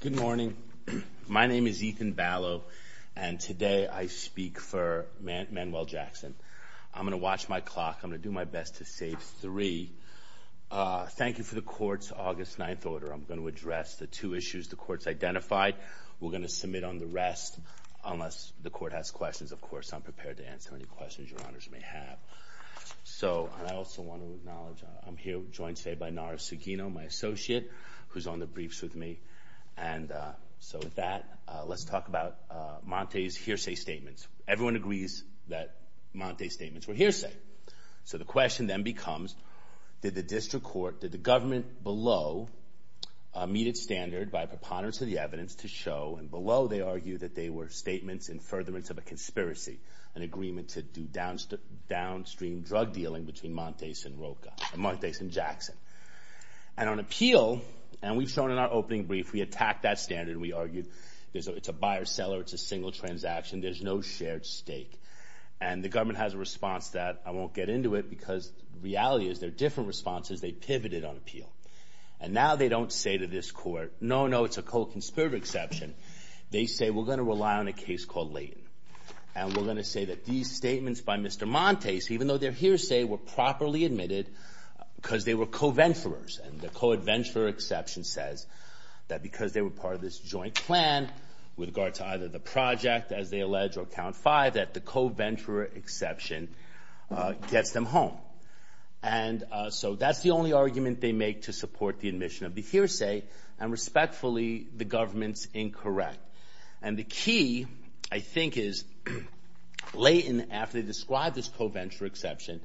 Good morning. My name is Ethan Ballo and today I speak for Manuel Jackson. I'm going to watch my clock. I'm going to do my best to save three. Thank you for the court's August 9th order. I'm going to address the two issues the court's identified. We're going to submit on the rest unless the court has questions. Of course, I'm prepared to answer any questions your honors may have. So I also want to acknowledge I'm here joined today by Nara Segino, my associate who's on the briefs with me. And so with that, let's talk about Monte's hearsay statements. Everyone agrees that Monte's statements were hearsay. So the question then becomes did the district court, did the government below meet its standard by preponderance of the evidence to show and below they argue that they were statements in furtherance of a conspiracy, an agreement to do downstream drug dealing between Monte's and Jackson. And on appeal, and we've shown in our opening brief, we attacked that standard. We argued it's a buyer-seller, it's a single transaction, there's no shared stake. And the government has a response that I won't get into it because the reality is there are different responses. They pivoted on appeal. And now they don't say to this court, no, no, it's a cold conspirator exception. They say we're going to rely on a case called Layton. And we're going to say that these statements by Mr. Monte's, even though they're hearsay, were properly admitted because they were co-venturers. And the co-adventurer exception says that because they were part of this joint plan with regard to either the project, as they allege, or count five, that the co-venturer exception gets them home. And so that's the only argument they make to support the admission of the hearsay. And respectfully, the government's incorrect. And the key, I think, is Layton, after they described this co-venturer exception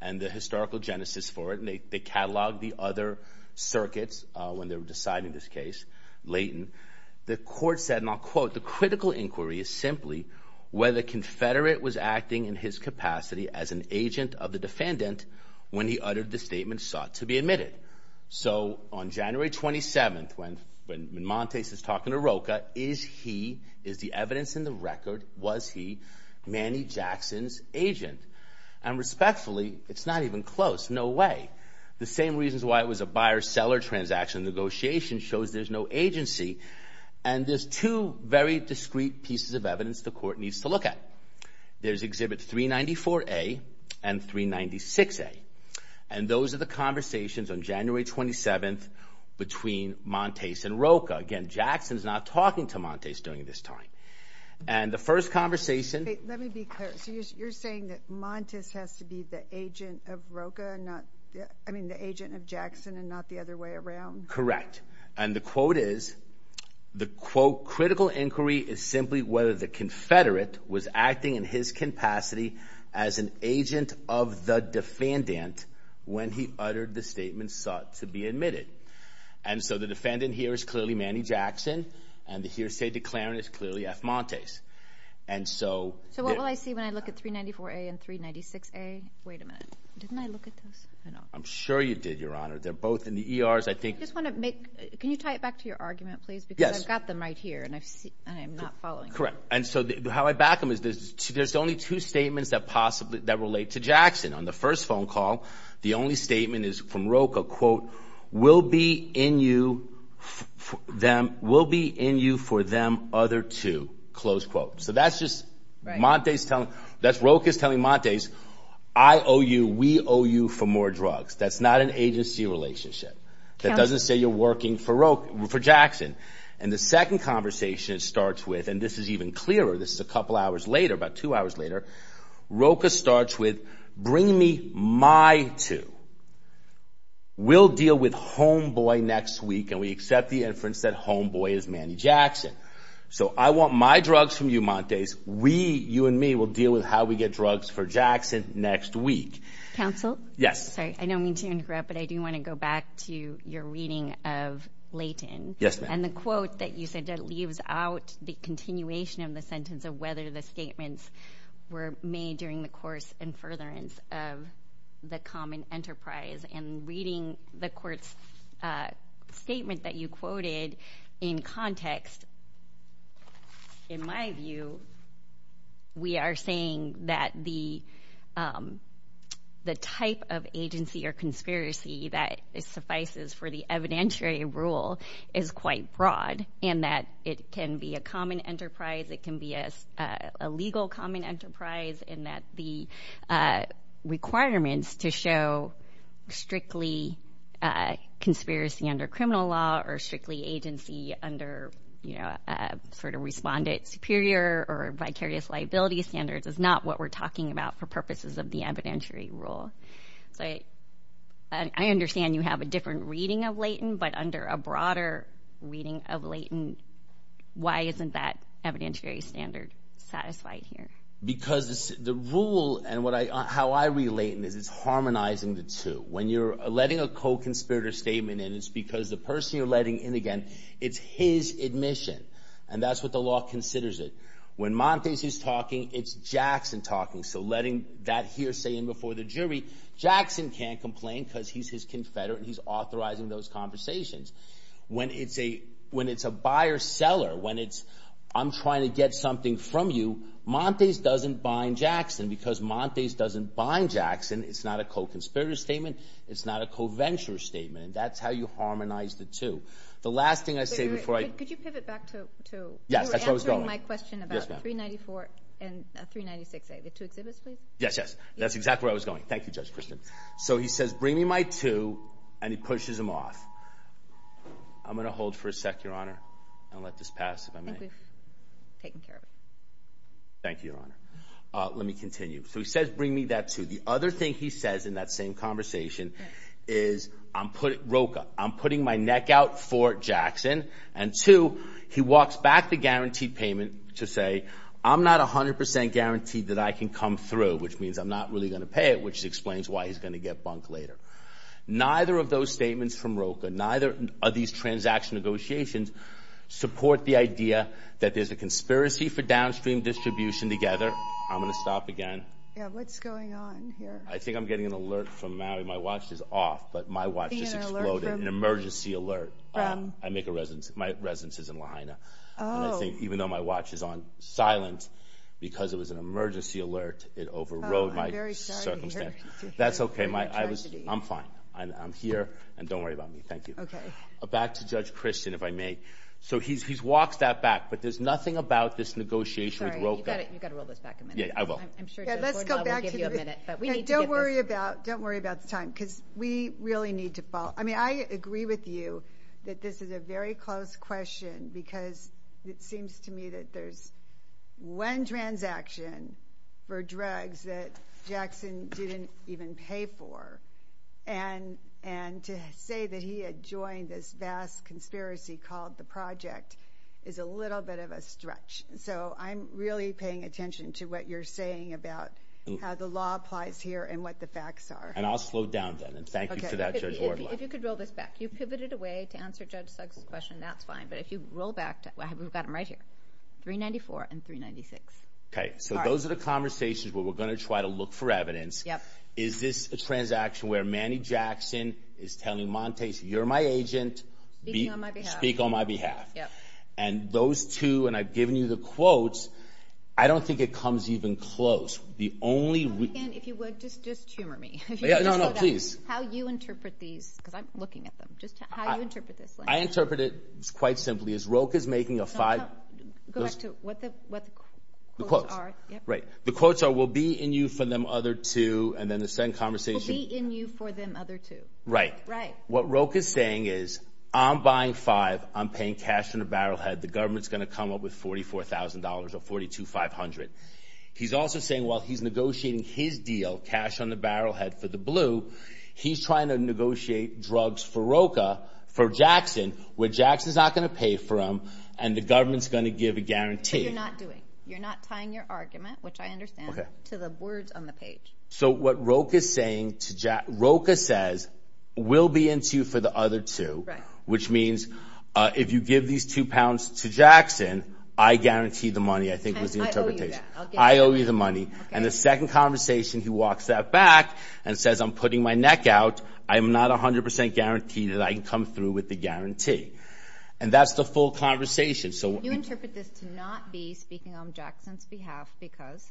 and the historical genesis for it, and they cataloged the other circuits when they were deciding this case, Layton, the court said, and I'll quote, the critical inquiry is simply whether Confederate was acting in his capacity as an agent of the defendant when he uttered the statement sought to be admitted. So on January 27th, when Monte's is talking to Roca, is he, is the evidence in the record, was he Manny Jackson's agent? And respectfully, it's not even close. No way. The same reasons why it was a buyer-seller transaction negotiation shows there's no agency. And there's two very discreet pieces of evidence the court needs to look at. There's Exhibit 394A and 396A. And those are the conversations on January 27th between Monte's and Roca. Again, Jackson's not talking to Monte's during this time. And the first conversation... Wait, let me be clear. So you're saying that Monte's has to be the agent of Roca and not, I mean, the agent of Jackson and not the other way around? Correct. And the quote is, the quote, critical inquiry is simply whether the Confederate was acting in his capacity as an agent of the defendant when he uttered the statement sought to be admitted. And so the defendant here is clearly Manny Jackson, and the hearsay declarant is clearly F. Monte's. And so... So what will I see when I look at 394A and 396A? Wait a minute. Didn't I look at those? I'm sure you did, Your Honor. They're both in the ERs, I think... Can you tie it back to your argument, please? Because I've got them right here, and I'm not following. Correct. And so how I back them is there's only two statements that relate to Jackson. On the first phone call, the only statement is from Roca, quote, will be in you for them other two, close quote. So that's just Monte's telling... That's Roca's telling Monte's, I owe you, we owe you for more drugs. That's not an agency relationship. That doesn't say you're working for Jackson. And the second conversation it starts with, and this is even clearer, this is a couple hours later, about two hours later, Roca starts with, bring me my two. We'll deal with homeboy next week, and we accept the inference that homeboy is Manny Jackson. So I want my drugs from you, Monte's. We, you and me, will deal with how we get drugs for Jackson next week. Counsel? Yes. I don't mean to interrupt, but I do want to go back to your reading of Leighton. Yes, ma'am. And the quote that you said that leaves out the continuation of the sentence of whether the statements were made during the course and furtherance of the common enterprise. And reading the court's statement that you quoted in context, in my view, we are saying that the type of agency or conspiracy that suffices for the evidentiary rule is quite broad, in that it can be a common enterprise, it can be a legal common enterprise, in that the requirements to show strictly conspiracy under criminal law or strictly agency under respondent superior or vicarious liability standards is not what we're talking about for purposes of the evidentiary rule. So I understand you have a different reading of Leighton, but under a broader reading of Leighton, why isn't that evidentiary standard satisfied here? Because the rule and how I read Leighton is it's harmonizing the two. When you're letting a co-conspirator statement in, it's because the person you're letting in, again, it's his admission, and that's what the law considers it. When Monte's is talking, it's Jackson talking. So letting that hearsay in before the jury, Jackson can't complain because he's his confederate and he's authorizing those conversations. When it's a buyer-seller, when it's I'm trying to get something from you, Monte's doesn't bind Jackson because Monte's doesn't bind Jackson. It's not a co-conspirator statement, it's not a co-venture statement, and that's how you harmonize the two. The last thing I say before I... Could you pivot back to... Yes, that's how it's going. My question about 394 and 396A, the two exhibits, please. Yes, yes. That's exactly where I was going. Thank you, Judge Kristen. So he says, bring me my two, and he pushes him off. I'm going to hold for a sec, Your Honor. I'll let this pass if I may. I think we've taken care of it. Thank you, Your Honor. Let me continue. So he says, bring me that two. The other thing he says in that same conversation is, Roka, I'm putting my neck out for Jackson, and two, he walks back a guaranteed payment to say, I'm not 100% guaranteed that I can come through, which means I'm not really going to pay it, which explains why he's going to get bunked later. Neither of those statements from Roka, neither of these transaction negotiations, support the idea that there's a conspiracy for downstream distribution together. I'm going to stop again. Yeah, what's going on here? I think I'm getting an alert from Maui. My watch is off, but my watch just exploded, an emergency alert. My residence is in Lahaina. I think even though my watch is on silent, because it was an emergency alert, it overrode my circumstance. That's okay. I'm fine. I'm here, and don't worry about me. Thank you. Back to Judge Christian, if I may. So he walks that back, but there's nothing about this negotiation with Roka. Sorry, you've got to roll this back a minute. Yeah, I will. I'm sure Judge Gordon will give you a minute, but we need to get this. Because we really need to follow. I mean, I agree with you that this is a very close question, because it seems to me that there's one transaction for drugs that Jackson didn't even pay for. And to say that he had joined this vast conspiracy called the Project is a little bit of a stretch. So I'm really paying attention to what you're saying about how the law applies here and what the facts are. I'll slow down then, and thank you to that, Judge Orloff. If you could roll this back. You pivoted away to answer Judge Sugg's question, that's fine. But if you roll back, we've got them right here, 394 and 396. Okay. So those are the conversations where we're going to try to look for evidence. Is this a transaction where Manny Jackson is telling Montase, you're my agent, speak on my behalf. And those two, and I've given you the quotes, I don't think it comes even close. The only- Just humor me. No, no, please. How you interpret these, because I'm looking at them, just how you interpret this. I interpret it quite simply as Roque is making a five- Go back to what the quotes are. Right. The quotes are, we'll be in you for them other two, and then the same conversation- We'll be in you for them other two. Right. Right. What Roque is saying is, I'm buying five, I'm paying cash in a barrel head, the government's going to come up with $44,000 or 42,500. He's also saying, while he's negotiating his deal, cash on the barrel head for the blue, he's trying to negotiate drugs for Roque, for Jackson, where Jackson's not going to pay for them, and the government's going to give a guarantee. But you're not doing. You're not tying your argument, which I understand, to the words on the page. So what Roque is saying to Jack, Roque says, we'll be in you for the other two. Right. Which means, if you give these two pounds to Jackson, I guarantee the money, I think was the interpretation. I owe you that. I owe you the money. And the second conversation, he walks that back and says, I'm putting my neck out. I'm not 100% guaranteed that I can come through with the guarantee. And that's the full conversation. So- You interpret this to not be speaking on Jackson's behalf because-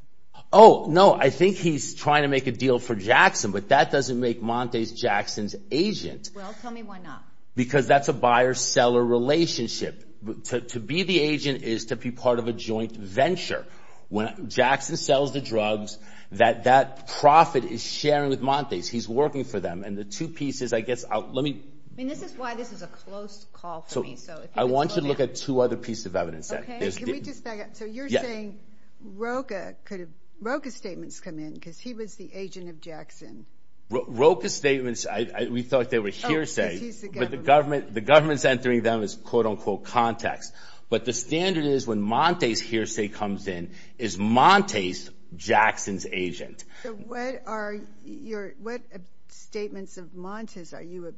Oh, no. I think he's trying to make a deal for Jackson, but that doesn't make Montes Jackson's agent. Well, tell me why not. Because that's a buyer-seller relationship. To be the agent is to be part of a joint venture. When Jackson sells the drugs, that profit is sharing with Montes. He's working for them. And the two pieces, I guess, let me- I mean, this is why this is a close call for me. So I want you to look at two other pieces of evidence. Okay. Can we just back up? So you're saying Roque could have, Roque's statements come in because he was the agent of Jackson. Roque's statements, we thought they were hearsay. Oh, because he's the government. The government's entering them as, quote, unquote, context. But the standard is when Montes hearsay comes in, is Montes Jackson's agent. So what are your- what statements of Montes are you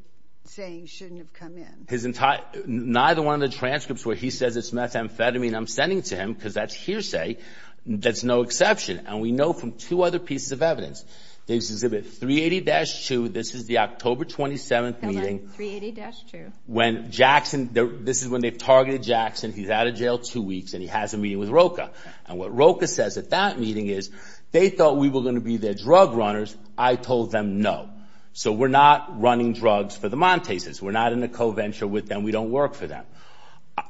saying shouldn't have come in? His entire- neither one of the transcripts where he says it's methamphetamine I'm sending to him because that's hearsay. That's no exception. And we know from two other pieces of evidence. They exhibit 380-2. This is the October 27th meeting. 380-2. When Jackson- this is when they've targeted Jackson. He's out of jail two weeks and he has a meeting with Roque. And what Roque says at that meeting is, they thought we were going to be their drug runners. I told them no. So we're not running drugs for the Montes. We're not in a co-venture with them. We don't work for them.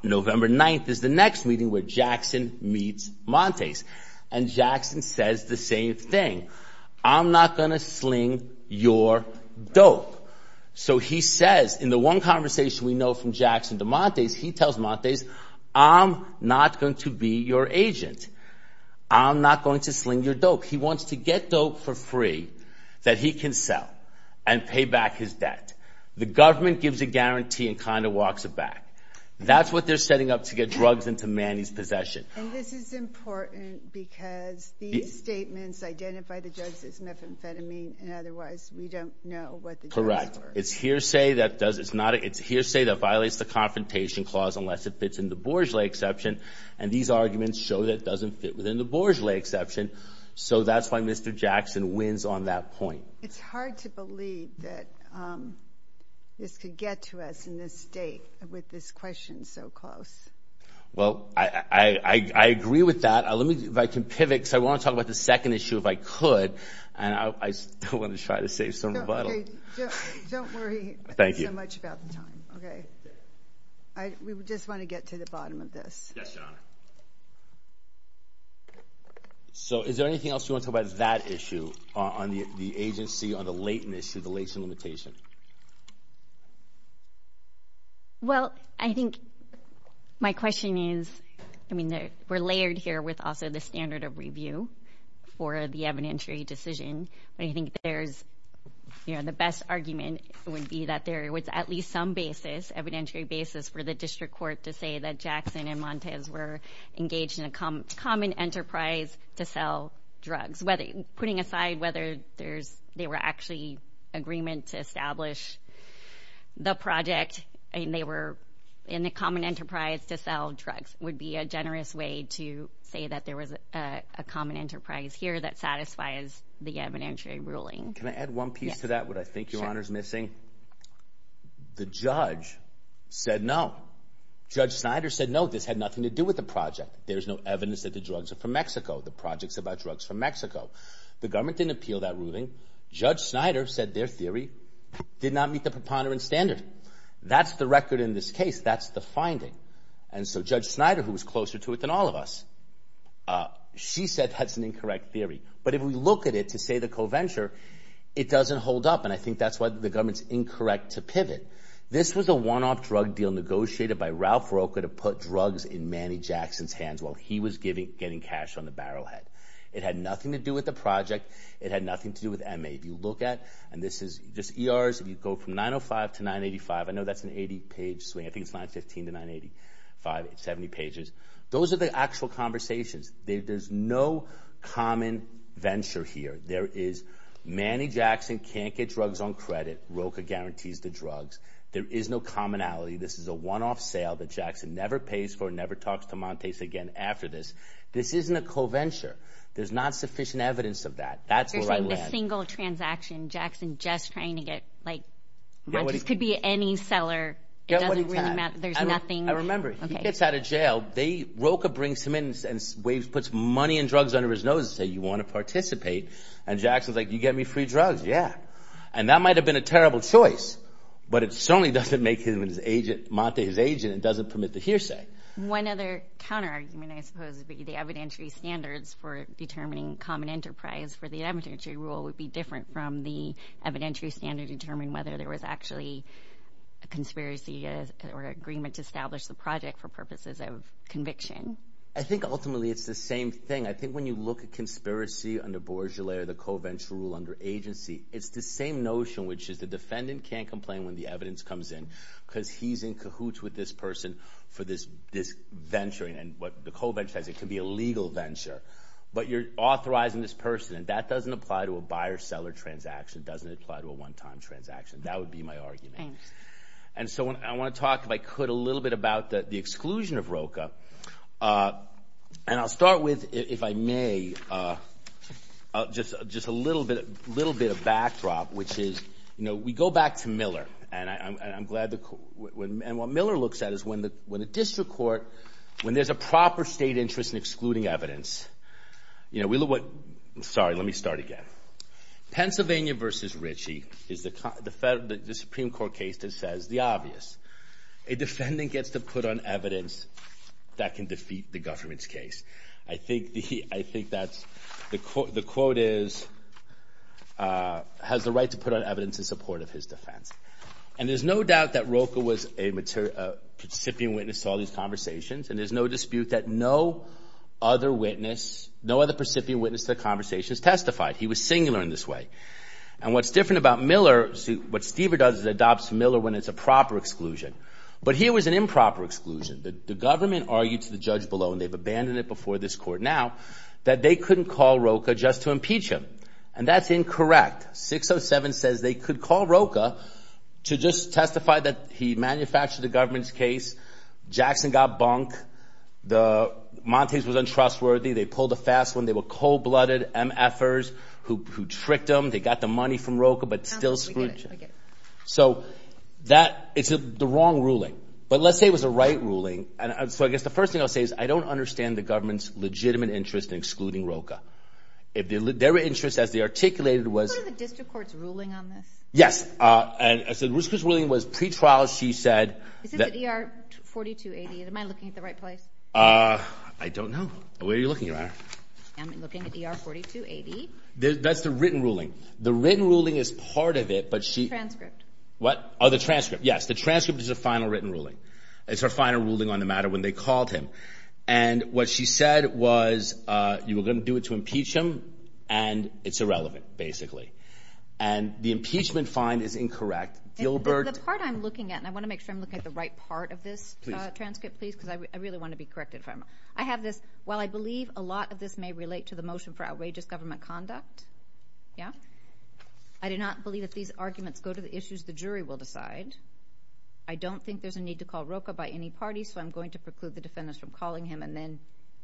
November 9th is the next meeting where Jackson meets Montes. And Jackson says the same thing. I'm not going to sling your dope. So he says in the one conversation we know from Jackson to Montes, he tells Montes, I'm not going to be your agent. I'm not going to sling your dope. He wants to get dope for free that he can sell and pay back his debt. The government gives a guarantee and kind of walks it back. That's what they're setting up to get drugs into Manny's possession. And this is important because these statements identify the drugs as methamphetamine and otherwise we don't know what the drugs were. Correct. It's hearsay that violates the Confrontation Clause unless it fits in the Bourgeois exception. And these arguments show that it doesn't fit within the Bourgeois exception. So that's why Mr. Jackson wins on that point. It's hard to believe that this could get to us in this state with this question so close. Well, I agree with that. Let me, if I can pivot, because I want to talk about the second issue if I could. And I still want to try to save some rebuttal. Don't worry so much about the time. We just want to get to the bottom of this. Yes, Your Honor. So is there anything else you want to talk about that issue on the agency, on the latent issue, the latent limitation? Well, I think my question is, I mean, we're layered here with also the standard of review for the evidentiary decision. But I think there's, you know, the best argument would be that there was at least some basis, evidentiary basis for the district court to say that Jackson and Montes were engaged in a common enterprise to sell drugs, whether putting aside whether there's, they were actually agreement to establish the project and they were in the common enterprise to sell drugs would be a generous way to say that there was a common enterprise here that satisfies the evidentiary ruling. Can I add one piece to that, what I think Your Honor is missing? The judge said no. Judge Snyder said no, this had nothing to do with the project. There's no evidence that the drugs are from Mexico. The project's about drugs from Mexico. The government didn't appeal that ruling. Judge Snyder said their theory did not meet the preponderance standard. That's the record in this case. That's the finding. And so Judge Snyder, who was closer to it than all of us, she said that's an incorrect theory. But if we look at it to say the co-venture, it doesn't hold up. And I think that's why the government's incorrect to pivot. This was a one-off drug deal negotiated by Ralph Roker to put drugs in Manny Jackson's hands while he was getting cash on the barrelhead. It had nothing to do with the project. It had nothing to do with MA. If you look at, and this is just ERs, if you go from 905 to 985, I know that's an 80-page swing, I think it's 915 to 985, it's 70 pages. Those are the actual conversations. There's no common venture here. There is Manny Jackson can't get drugs on credit. Roker guarantees the drugs. There is no commonality. This is a one-off sale that Jackson never pays for, never talks to Montes again after this. This isn't a co-venture. There's not sufficient evidence of that. That's where I land. There's not a single transaction. Jackson just trying to get, like, Montes could be any seller. It doesn't really matter. There's nothing. I remember, he gets out of jail, Roker brings him in and puts money and drugs under his nose and says, you want to participate? And Jackson's like, you get me free drugs? Yeah. And that might have been a terrible choice, but it certainly doesn't make Montes his agent and doesn't permit the hearsay. One other counterargument, I suppose, would be the evidentiary standards for determining common enterprise for the evidentiary rule would be different from the evidentiary standard to determine whether there was actually a conspiracy or agreement to establish the project for purposes of conviction. I think, ultimately, it's the same thing. I think when you look at conspiracy under bourgeois or the co-venture rule under agency, it's the same notion, which is the defendant can't complain when the evidence comes in because he's in cahoots with this person for this venturing. And what the co-venture has, it can be a legal venture. But you're authorizing this person. And that doesn't apply to a buyer-seller transaction. It doesn't apply to a one-time transaction. That would be my argument. Thanks. And so I want to talk, if I could, a little bit about the exclusion of ROCA. And I'll start with, if I may, just a little bit of backdrop, which is, you know, we go back to Miller. And what Miller looks at is when the district court, when there's a proper state interest in excluding evidence, you know, we look at what, sorry, let me start again. Pennsylvania versus Ritchie is the Supreme Court case that says the obvious. A defendant gets to put on evidence that can defeat the government's case. I think that's, the quote is, has the right to put on evidence in support of his defense. And there's no doubt that ROCA was a participant witness to all these conversations. And there's no dispute that no other witness, no other recipient witness to the conversations testified. He was singular in this way. And what's different about Miller, what Stever does is adopts Miller when it's a proper exclusion. But here was an improper exclusion. The government argued to the judge below, and they've abandoned it before this court now, that they couldn't call ROCA just to impeach him. And that's incorrect. 607 says they could call ROCA to just testify that he manufactured the government's case. Jackson got bunk. The Montagues was untrustworthy. They pulled a fast one. They were cold-blooded MFers who tricked them. They got the money from ROCA, but still screwed. So that, it's the wrong ruling. But let's say it was a right ruling. And so I guess the first thing I'll say is I don't understand the government's legitimate interest in excluding ROCA. If their interest, as they articulated, was. What are the district court's ruling on this? Yes. And so Ruth's ruling was pretrial. She said. Is this ER 4280? Am I looking at the right place? I don't know. Where are you looking, Your Honor? I'm looking at ER 4280. That's the written ruling. The written ruling is part of it, but she. The transcript. What? Oh, the transcript. Yes, the transcript is the final written ruling. It's her final ruling on the matter when they called him. And what she said was you were going to do it to impeach him. And it's irrelevant, basically. And the impeachment find is incorrect. Gilbert. The part I'm looking at, and I want to make sure I'm looking at the right part of this transcript, please, because I really want to be corrected if I'm wrong. I have this. While I believe a lot of this may relate to the motion for outrageous government conduct. Yeah. I do not believe that these arguments go to the issues the jury will decide. I don't think there's a need to call ROCA by any party. So I'm going to preclude the defendants from calling him. And then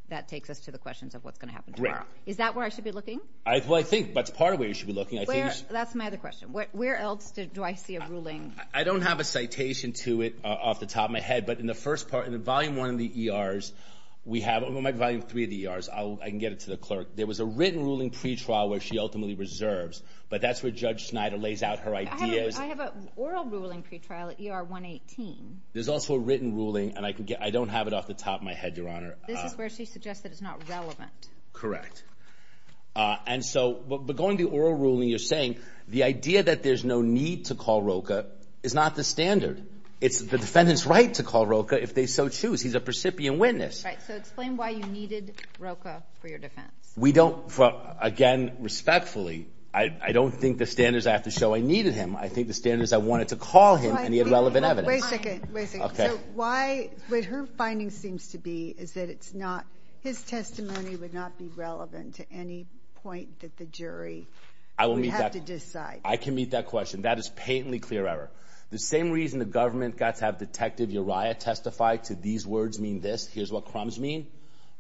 that takes us to the questions of what's going to happen tomorrow. Is that where I should be looking? I think that's part of where you should be looking. I think that's my other question. Where else do I see a ruling? I don't have a citation to it off the top of my head. But in the first part, in the volume one of the ERs, we have a volume three of the ERs. I can get it to the clerk. There was a written ruling pretrial where she ultimately reserves. But that's where Judge Snyder lays out her ideas. I have an oral ruling pretrial at ER 118. There's also a written ruling. And I don't have it off the top of my head, Your Honor. This is where she suggests that it's not relevant. Correct. And so going to oral ruling, you're saying the idea that there's no need to call ROCA. It's not the standard. It's the defendant's right to call ROCA if they so choose. He's a precipient witness. Right. So explain why you needed ROCA for your defense. We don't, again, respectfully, I don't think the standards I have to show I needed him. I think the standards I wanted to call him and he had relevant evidence. Wait a second. Wait a second. Okay. So why, what her finding seems to be is that it's not, his testimony would not be relevant to any point that the jury would have to decide. I can meet that question. That is patently clear error. The same reason the government got to have Detective Uriah testify to these words mean this, here's what crumbs mean.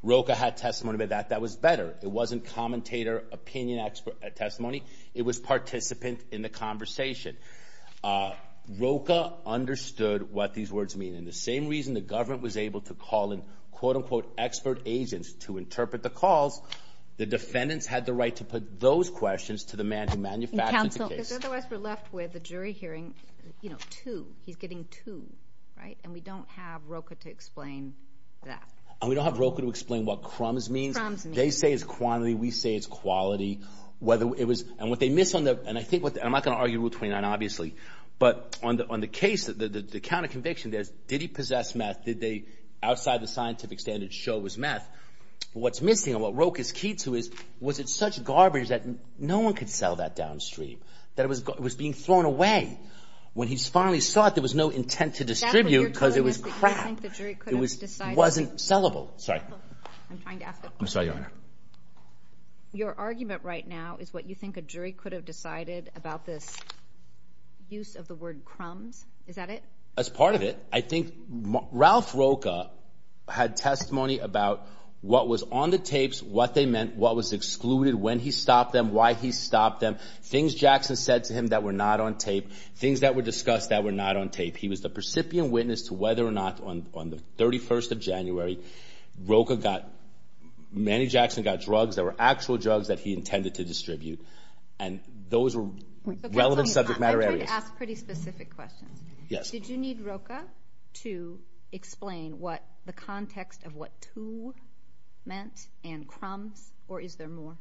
ROCA had testimony about that. That was better. It wasn't commentator, opinion expert testimony. It was participant in the conversation. ROCA understood what these words mean. And the same reason the government was able to call in, quote unquote, expert agents to interpret the calls, the defendants had the right to put those questions to the man who manufactured the case. Because otherwise we're left with the jury hearing, you know, two, he's getting two, right? And we don't have ROCA to explain that. And we don't have ROCA to explain what crumbs means. They say it's quantity. We say it's quality. Whether it was, and what they miss on the, and I think what the, I'm not going to argue Rule 29, obviously, but on the, on the case that the, the counter conviction there's, did he possess meth? Did they, outside the scientific standards show it was meth? What's missing and what ROCA's key to is, was it such garbage that no one could sell that downstream? That it was, it was being thrown away when he finally saw it. There was no intent to distribute because it was crap. It was, it wasn't sellable. Sorry, I'm sorry, your honor. Your argument right now is what you think a jury could have decided about this use of the word crumbs. Is that it? As part of it, I think Ralph ROCA had testimony about what was on the tapes, what they meant, what was excluded, when he stopped them, why he stopped them. Things Jackson said to him that were not on tape. Things that were discussed that were not on tape. He was the percipient witness to whether or not on, on the 31st of January, ROCA got, many Jackson got drugs that were actual drugs that he intended to distribute. And those were relevant subject matter areas. I'm trying to ask pretty specific questions. Yes. Did you need ROCA to explain what the context of what to meant and crumbs, or is there more?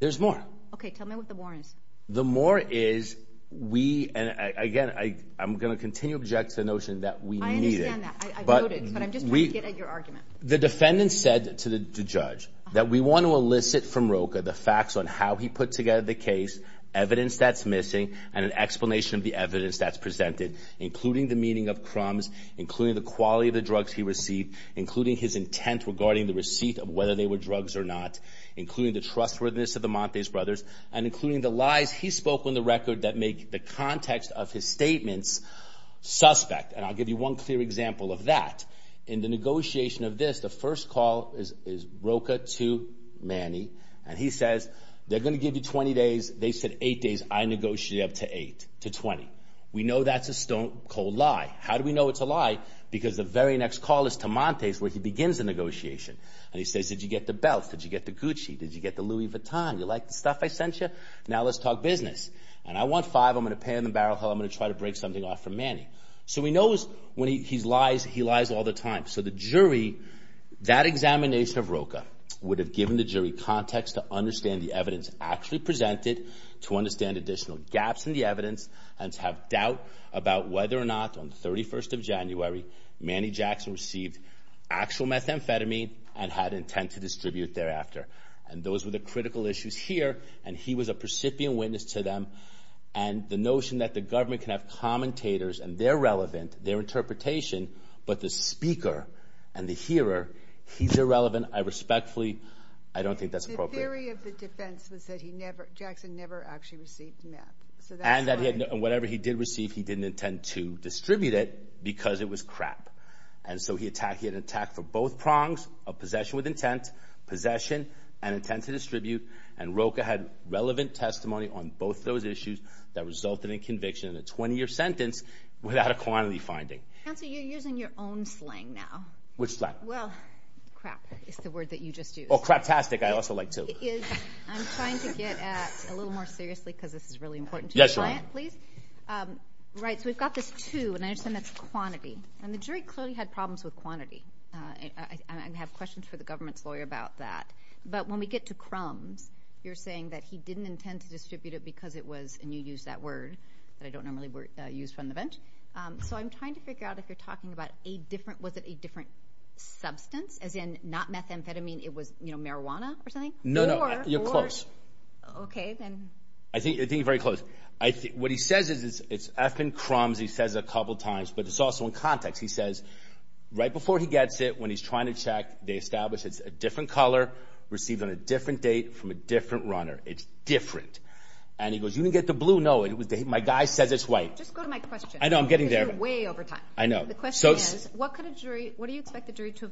There's more. Okay. Tell me what the more is. The more is we, and again, I, I'm going to continue to object to the notion that we needed. I understand that, I voted, but I'm just trying to get at your argument. The defendant said to the judge that we want to elicit from ROCA the facts on how he put together the case, evidence that's missing, and an explanation of the evidence that's presented, including the meaning of crumbs, including the quality of the drugs he received, including his intent regarding the receipt of whether they were drugs or not, including the trustworthiness of the Montes brothers, and including the lies he spoke on the record that make the context of his statements suspect. And I'll give you one clear example of that. In the negotiation of this, the first call is, is ROCA to Manny. And he says, they're going to give you 20 days. They said eight days. I negotiated up to eight to 20. We know that's a stone cold lie. How do we know it's a lie? Because the very next call is to Montes where he begins the negotiation. And he says, did you get the belt? Did you get the Gucci? Did you get the Louis Vuitton? You like the stuff I sent you? Now let's talk business. And I want five. I'm going to pan the barrel. I'm going to try to break something off for Manny. So we know when he lies, he lies all the time. So the jury, that examination of ROCA would have given the jury context to understand the evidence actually presented, to understand additional gaps in the evidence, and to have doubt about whether or not on the 31st of January Manny Jackson received actual methamphetamine and had intent to distribute thereafter. And those were the critical issues here. And he was a percipient witness to them. And the notion that the government can have commentators, and they're relevant, their interpretation, but the speaker and the hearer, he's irrelevant, I respectfully, I don't think that's appropriate. The theory of the defense was that he never, Jackson never actually received meth. So that's why- And that he had, and whatever he did receive, he didn't intend to distribute it because it was crap. And so he attacked, he had an attack for both prongs of possession with intent, possession and intent to distribute. And ROCA had relevant testimony on both those issues that resulted in conviction in a 20 year sentence without a quantity finding. Counselor, you're using your own slang now. Which slang? Well, crap is the word that you just used. Oh, craptastic. I also like to. I'm trying to get at a little more seriously because this is really important to the client. Yes, Your Honor. Please. Right. So we've got this two, and I understand that's quantity. And the jury clearly had problems with quantity. I have questions for the government's lawyer about that. But when we get to crumbs, you're saying that he didn't intend to distribute it because it was, and you used that word that I don't normally use from the bench. So I'm trying to figure out if you're talking about a different, was it a different substance? As in not methamphetamine, it was marijuana or something? No, no. You're close. Okay, then. I think you're very close. What he says is, it's, I've been crumbs, he says a couple times. But it's also in context. He says right before he gets it, when he's trying to check, they establish it's a different color, received on a different date from a different runner. It's different. And he goes, you didn't get the blue. No, it was, my guy says it's white. Just go to my question. I know, I'm getting there. Because you're way over time. I know. The question is, what could a jury, what do you expect the jury to,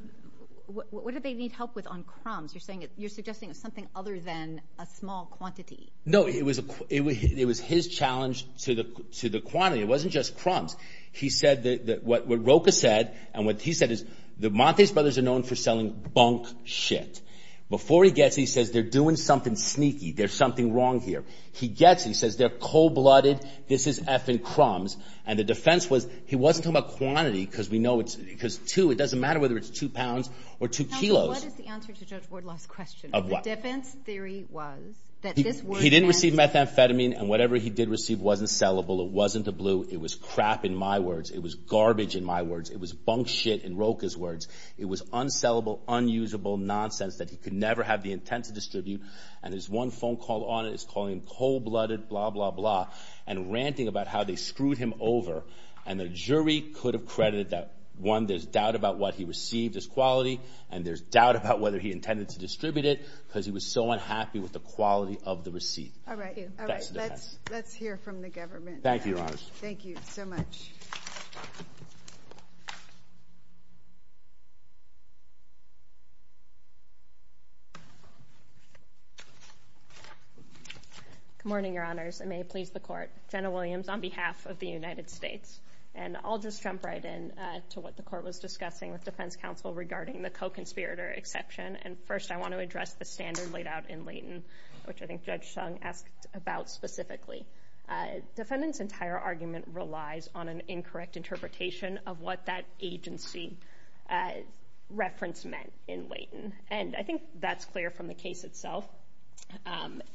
what did they need help with on crumbs? You're saying, you're suggesting it's something other than a small quantity. No, it was his challenge to the quantity. It wasn't just crumbs. He said that, what Roka said, and what he said is, the Montes brothers are known for selling bunk shit. Before he gets it, he says, they're doing something sneaky. There's something wrong here. He gets, he says, they're cold blooded. This is effing crumbs. And the defense was, he wasn't talking about quantity, because we know it's, because two, it doesn't matter whether it's two pounds or two kilos. Counselor, what is the answer to Judge Wardlaw's question? Of what? The defense theory was that this word meant. He didn't receive methamphetamine, and whatever he did receive wasn't sellable. It wasn't a blue. It was crap in my words. It was garbage in my words. It was bunk shit in Roka's words. It was unsellable, unusable nonsense that he could never have the intent to distribute. And his one phone call on it is calling him cold blooded, blah, blah, blah, and ranting about how they screwed him over. And the jury could have credited that, one, there's doubt about what he received as quality, and there's doubt about whether he intended to distribute it, because he was so unhappy with the quality of the receipt. All right. Let's hear from the government. Thank you, Your Honor. Thank you so much. Good morning, Your Honors. I may please the court. Jenna Williams on behalf of the United States. And I'll just jump right in to what the court was discussing with defense counsel regarding the co-conspirator exception. And first, I want to address the standard laid out in Layton, which I think Judge Sung asked about specifically. Defendant's entire argument relies on an incorrect interpretation of what that agency reference meant in Layton. And I think that's clear from the case itself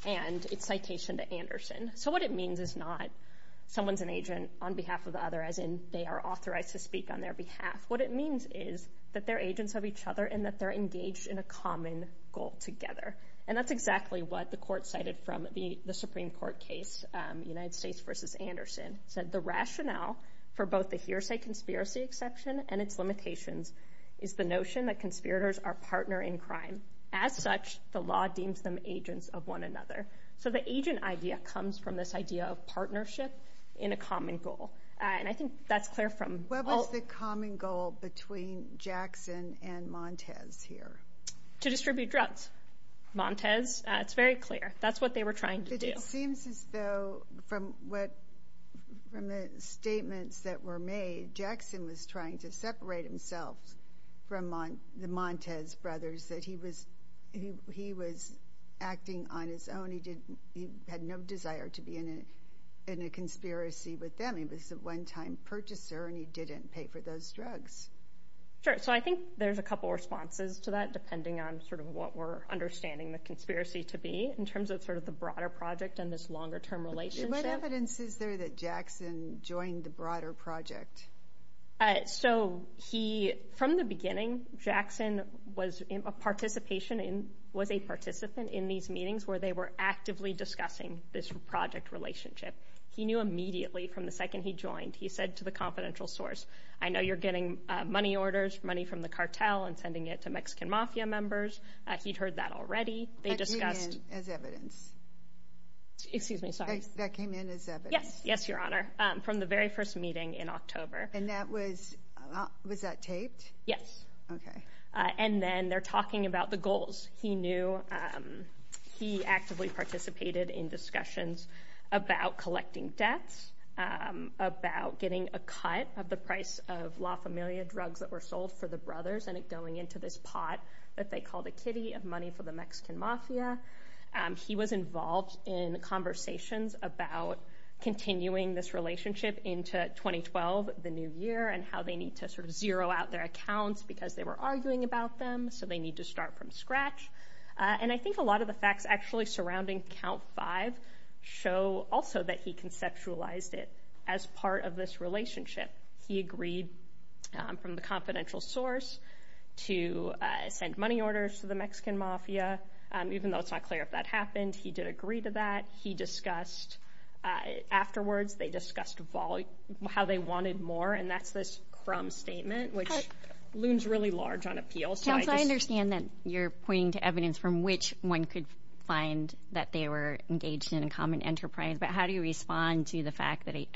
and its citation to Anderson. So what it means is not someone's an agent on behalf of the other, as in they are authorized to speak on their behalf. What it means is that they're agents of each other and that they're engaged in a common goal together. And that's exactly what the court cited from the Supreme Court case, United States versus Anderson. Said the rationale for both the hearsay conspiracy exception and its limitations is the notion that conspirators are partner in crime. As such, the law deems them agents of one another. So the agent idea comes from this idea of partnership in a common goal. And I think that's clear from- What was the common goal between Jackson and Montez here? To distribute drugs. Montez. It's very clear. That's what they were trying to do. It seems as though from the statements that were made, Jackson was trying to separate himself from the Montez brothers, that he was acting on his own. He had no desire to be in a conspiracy with them. He was a one-time purchaser and he didn't pay for those drugs. Sure. So I think there's a couple responses to that depending on sort of what we're understanding the conspiracy to be in terms of sort of the broader project and this longer term relationship. What evidence is there that Jackson joined the broader project? So from the beginning, Jackson was a participant in these meetings where they were actively discussing this project relationship. He knew immediately from the second he joined, he said to the confidential source, I know you're getting money orders, money from the cartel and sending it to Mexican mafia members. He'd heard that already. That came in as evidence? Excuse me. Sorry. That came in as evidence? Yes. Yes, Your Honor. From the very first meeting in October. And that was, was that taped? Yes. Okay. And then they're talking about the goals. He knew, he actively participated in discussions about collecting debts, about getting a cut of the price of La Familia drugs that were sold for the brothers and it going into this money for the Mexican mafia. He was involved in conversations about continuing this relationship into 2012, the new year and how they need to sort of zero out their accounts because they were arguing about them. So they need to start from scratch. And I think a lot of the facts actually surrounding count five show also that he conceptualized it as part of this relationship. He agreed from the confidential source to send money orders to the Mexican mafia, even though it's not clear if that happened. He did agree to that. He discussed afterwards, they discussed how they wanted more. And that's this crumb statement, which looms really large on appeal. Counsel, I understand that you're pointing to evidence from which one could find that they were engaged in a common enterprise, but how do you respond to the fact that I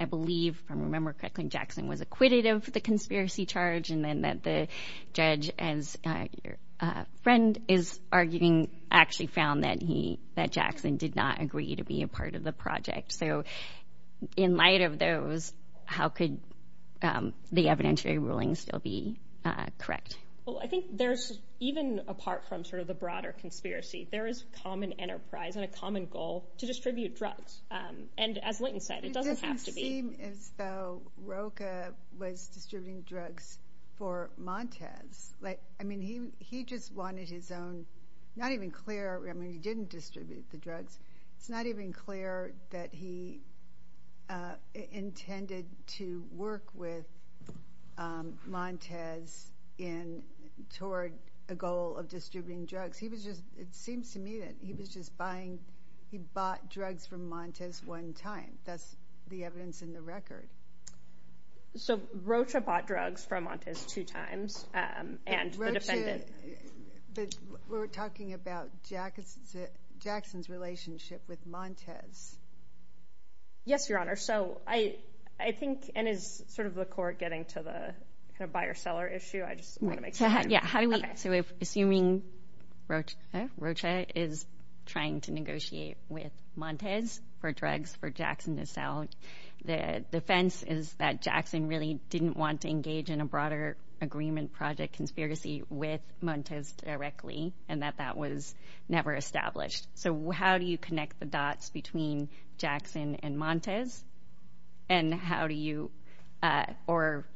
remember correctly, Jackson was acquitted of the conspiracy charge and then that the judge, as your friend is arguing, actually found that he that Jackson did not agree to be a part of the project. So in light of those, how could the evidentiary ruling still be correct? Well, I think there's even apart from sort of the broader conspiracy, there is common enterprise and a common goal to distribute drugs. And as Linton said, it doesn't have to be as though Roka was distributing drugs for Montez. Like, I mean, he he just wanted his own not even clear. I mean, he didn't distribute the drugs. It's not even clear that he intended to work with Montez in toward a goal of distributing drugs. It seems to me that he was just buying. He bought drugs from Montez one time. That's the evidence in the record. So Roka bought drugs from Montez two times and the defendant. We're talking about Jackson's relationship with Montez. Yes, Your Honor. So I think, and as sort of the court getting to the kind of buyer-seller issue, I just want to make sure. Yeah. How do we so if assuming Rocha is trying to negotiate with Montez for drugs for Jackson to sell, the defense is that Jackson really didn't want to engage in a broader agreement project conspiracy with Montez directly and that that was never established. So how do you connect the dots between Jackson and Montez? And how do you or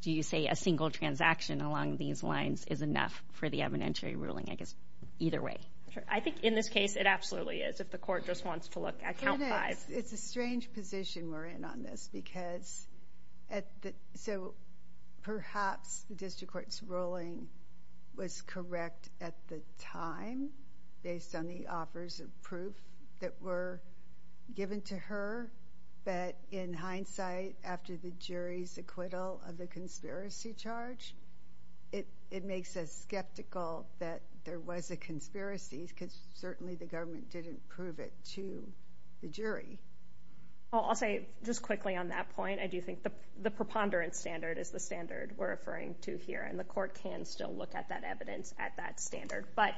do you say a single transaction along these lines is enough for the evidentiary ruling? I guess either way. I think in this case, it absolutely is. If the court just wants to look at count five. It's a strange position. We're in on this because at the so perhaps the district court's ruling was correct at the time based on the offers of proof that were given to her. But in hindsight, after the jury's acquittal of the conspiracy charge, it makes us skeptical that there was a conspiracy because certainly the government didn't prove it to the jury. I'll say just quickly on that point, I do think the preponderance standard is the standard we're referring to here. The court can still look at that evidence at that standard. But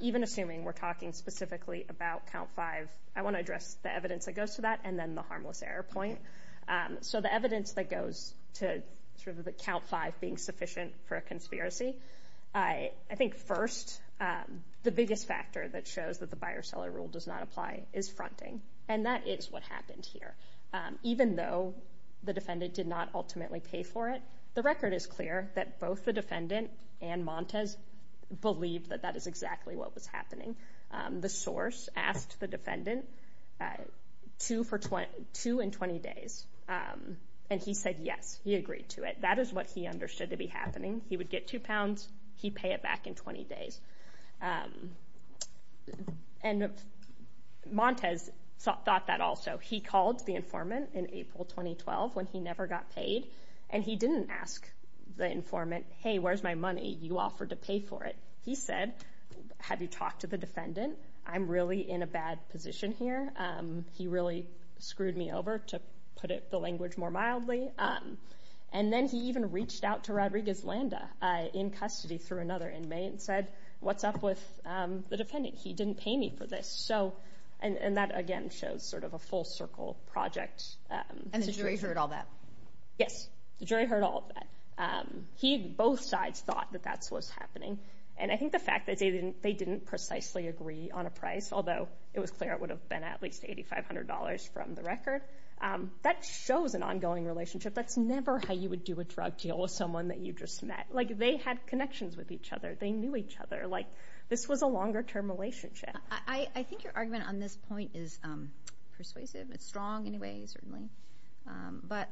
even assuming we're talking specifically about count five, I want to address the evidence that goes to that and then the harmless error point. So the evidence that goes to sort of the count five being sufficient for a conspiracy, I think first, the biggest factor that shows that the buyer seller rule does not apply is fronting. And that is what happened here. Even though the defendant did not ultimately pay for it, the record is clear that both the defendant and Montes believed that that is exactly what was happening. The source asked the defendant two and 20 days. And he said, yes, he agreed to it. That is what he understood to be happening. He would get two pounds. He'd pay it back in 20 days. And Montes thought that also. He called the informant in April 2012 when he never got paid. And he didn't ask the informant, hey, where's my money? You offered to pay for it. He said, have you talked to the defendant? I'm really in a bad position here. He really screwed me over, to put it the language more mildly. And then he even reached out to Rodriguez-Landa in custody through another inmate and said, what's up with the defendant? He didn't pay me for this. And that, again, shows sort of a full circle project. And the jury heard all that? Yes, the jury heard all of that. Both sides thought that that's what's happening. And I think the fact that they didn't precisely agree on a price, although it was clear it would have been at least $8,500 from the record, that shows an ongoing relationship. That's never how you would do a drug deal with someone that you just met. Like, they had connections with each other. They knew each other. Like, this was a longer term relationship. I think your argument on this point is persuasive. It's strong in a way, certainly. But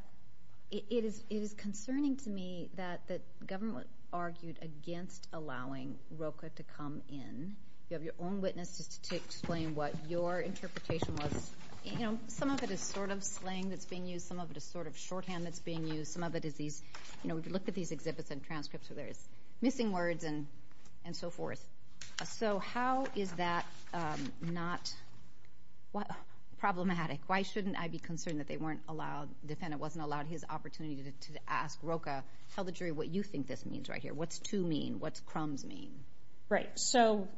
it is concerning to me that the government argued against allowing Roka to come in. You have your own witnesses to explain what your interpretation was. You know, some of it is sort of slang that's being used. Some of it is sort of shorthand that's being used. Some of it is these, you know, if you look at these exhibits and transcripts where there's missing words and so forth. So how is that not problematic? Why shouldn't I be concerned that the defendant wasn't allowed his opportunity to ask Roka, tell the jury what you think this means right here. What's to mean? What's crumbs mean? Right. So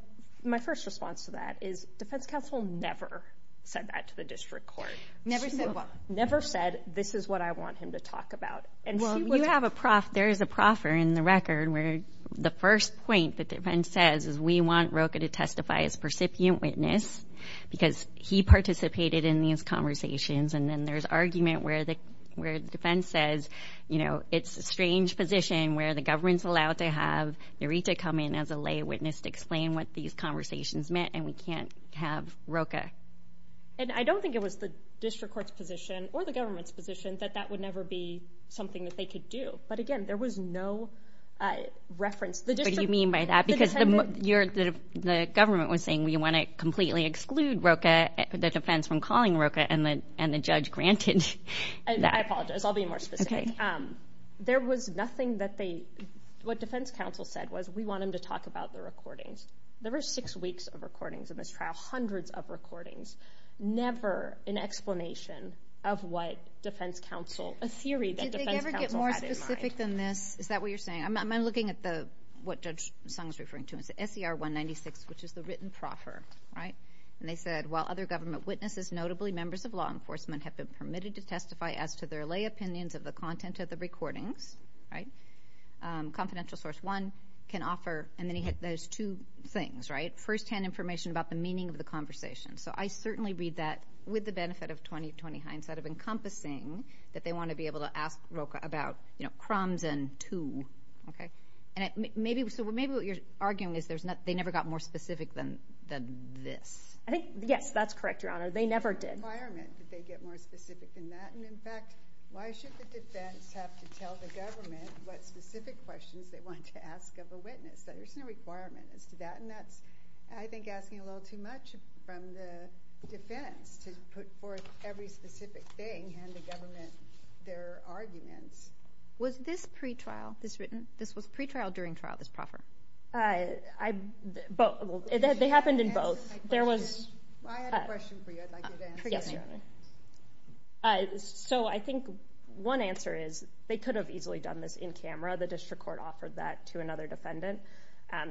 my first response to that is defense counsel never said that to the district court. Never said what? Never said, this is what I want him to talk about. Well, you have a prof. There is a proffer in the record where the first point the defense says is we want Roka to testify as percipient witness because he participated in these conversations. And then there's argument where the where the defense says, you know, it's a strange position where the government's allowed to have Narita come in as a lay witness to explain what these conversations meant. And we can't have Roka. And I don't think it was the district court's position or the government's position that that would never be something that they could do. But again, there was no reference. What do you mean by that? Because the government was saying we want to completely exclude Roka, the defense from calling Roka and the judge granted that. I apologize. I'll be more specific. There was nothing that they, what defense counsel said was we want him to talk about the recordings. There were six weeks of recordings in this trial, hundreds of recordings, never an explanation of what defense counsel, a theory that defense counsel had in mind. Did they ever get more specific than this? Is that what you're saying? I'm looking at the, what Judge Sung's referring to is the SER 196, which is the written proffer, right? And they said, while other government witnesses, notably members of law enforcement, have been permitted to testify as to their lay opinions of the content of the recordings, right? Confidential source one can offer, and then he hit those two things, right? First hand information about the meaning of the conversation. So I certainly read that with the benefit of 20-20 hindsight of encompassing that they want to be able to ask Roka about, you know, crumbs and two, okay? And maybe, so maybe what you're arguing is there's not, they never got more specific than this. I think, yes, that's correct, Your Honor. They never did. What requirement did they get more specific than that? And in fact, why should the defense have to tell the government what specific questions they wanted to ask of a witness? There's no requirement as to that. And that's, I think, asking a little too much from the defense to put forth every specific thing and to government their arguments. Was this pre-trial, this written? This was pre-trial during trial, this proffer? They happened in both. I had a question for you. I'd like you to answer it, Your Honor. So I think one answer is they could have easily done this in camera. The district court offered that to another defendant.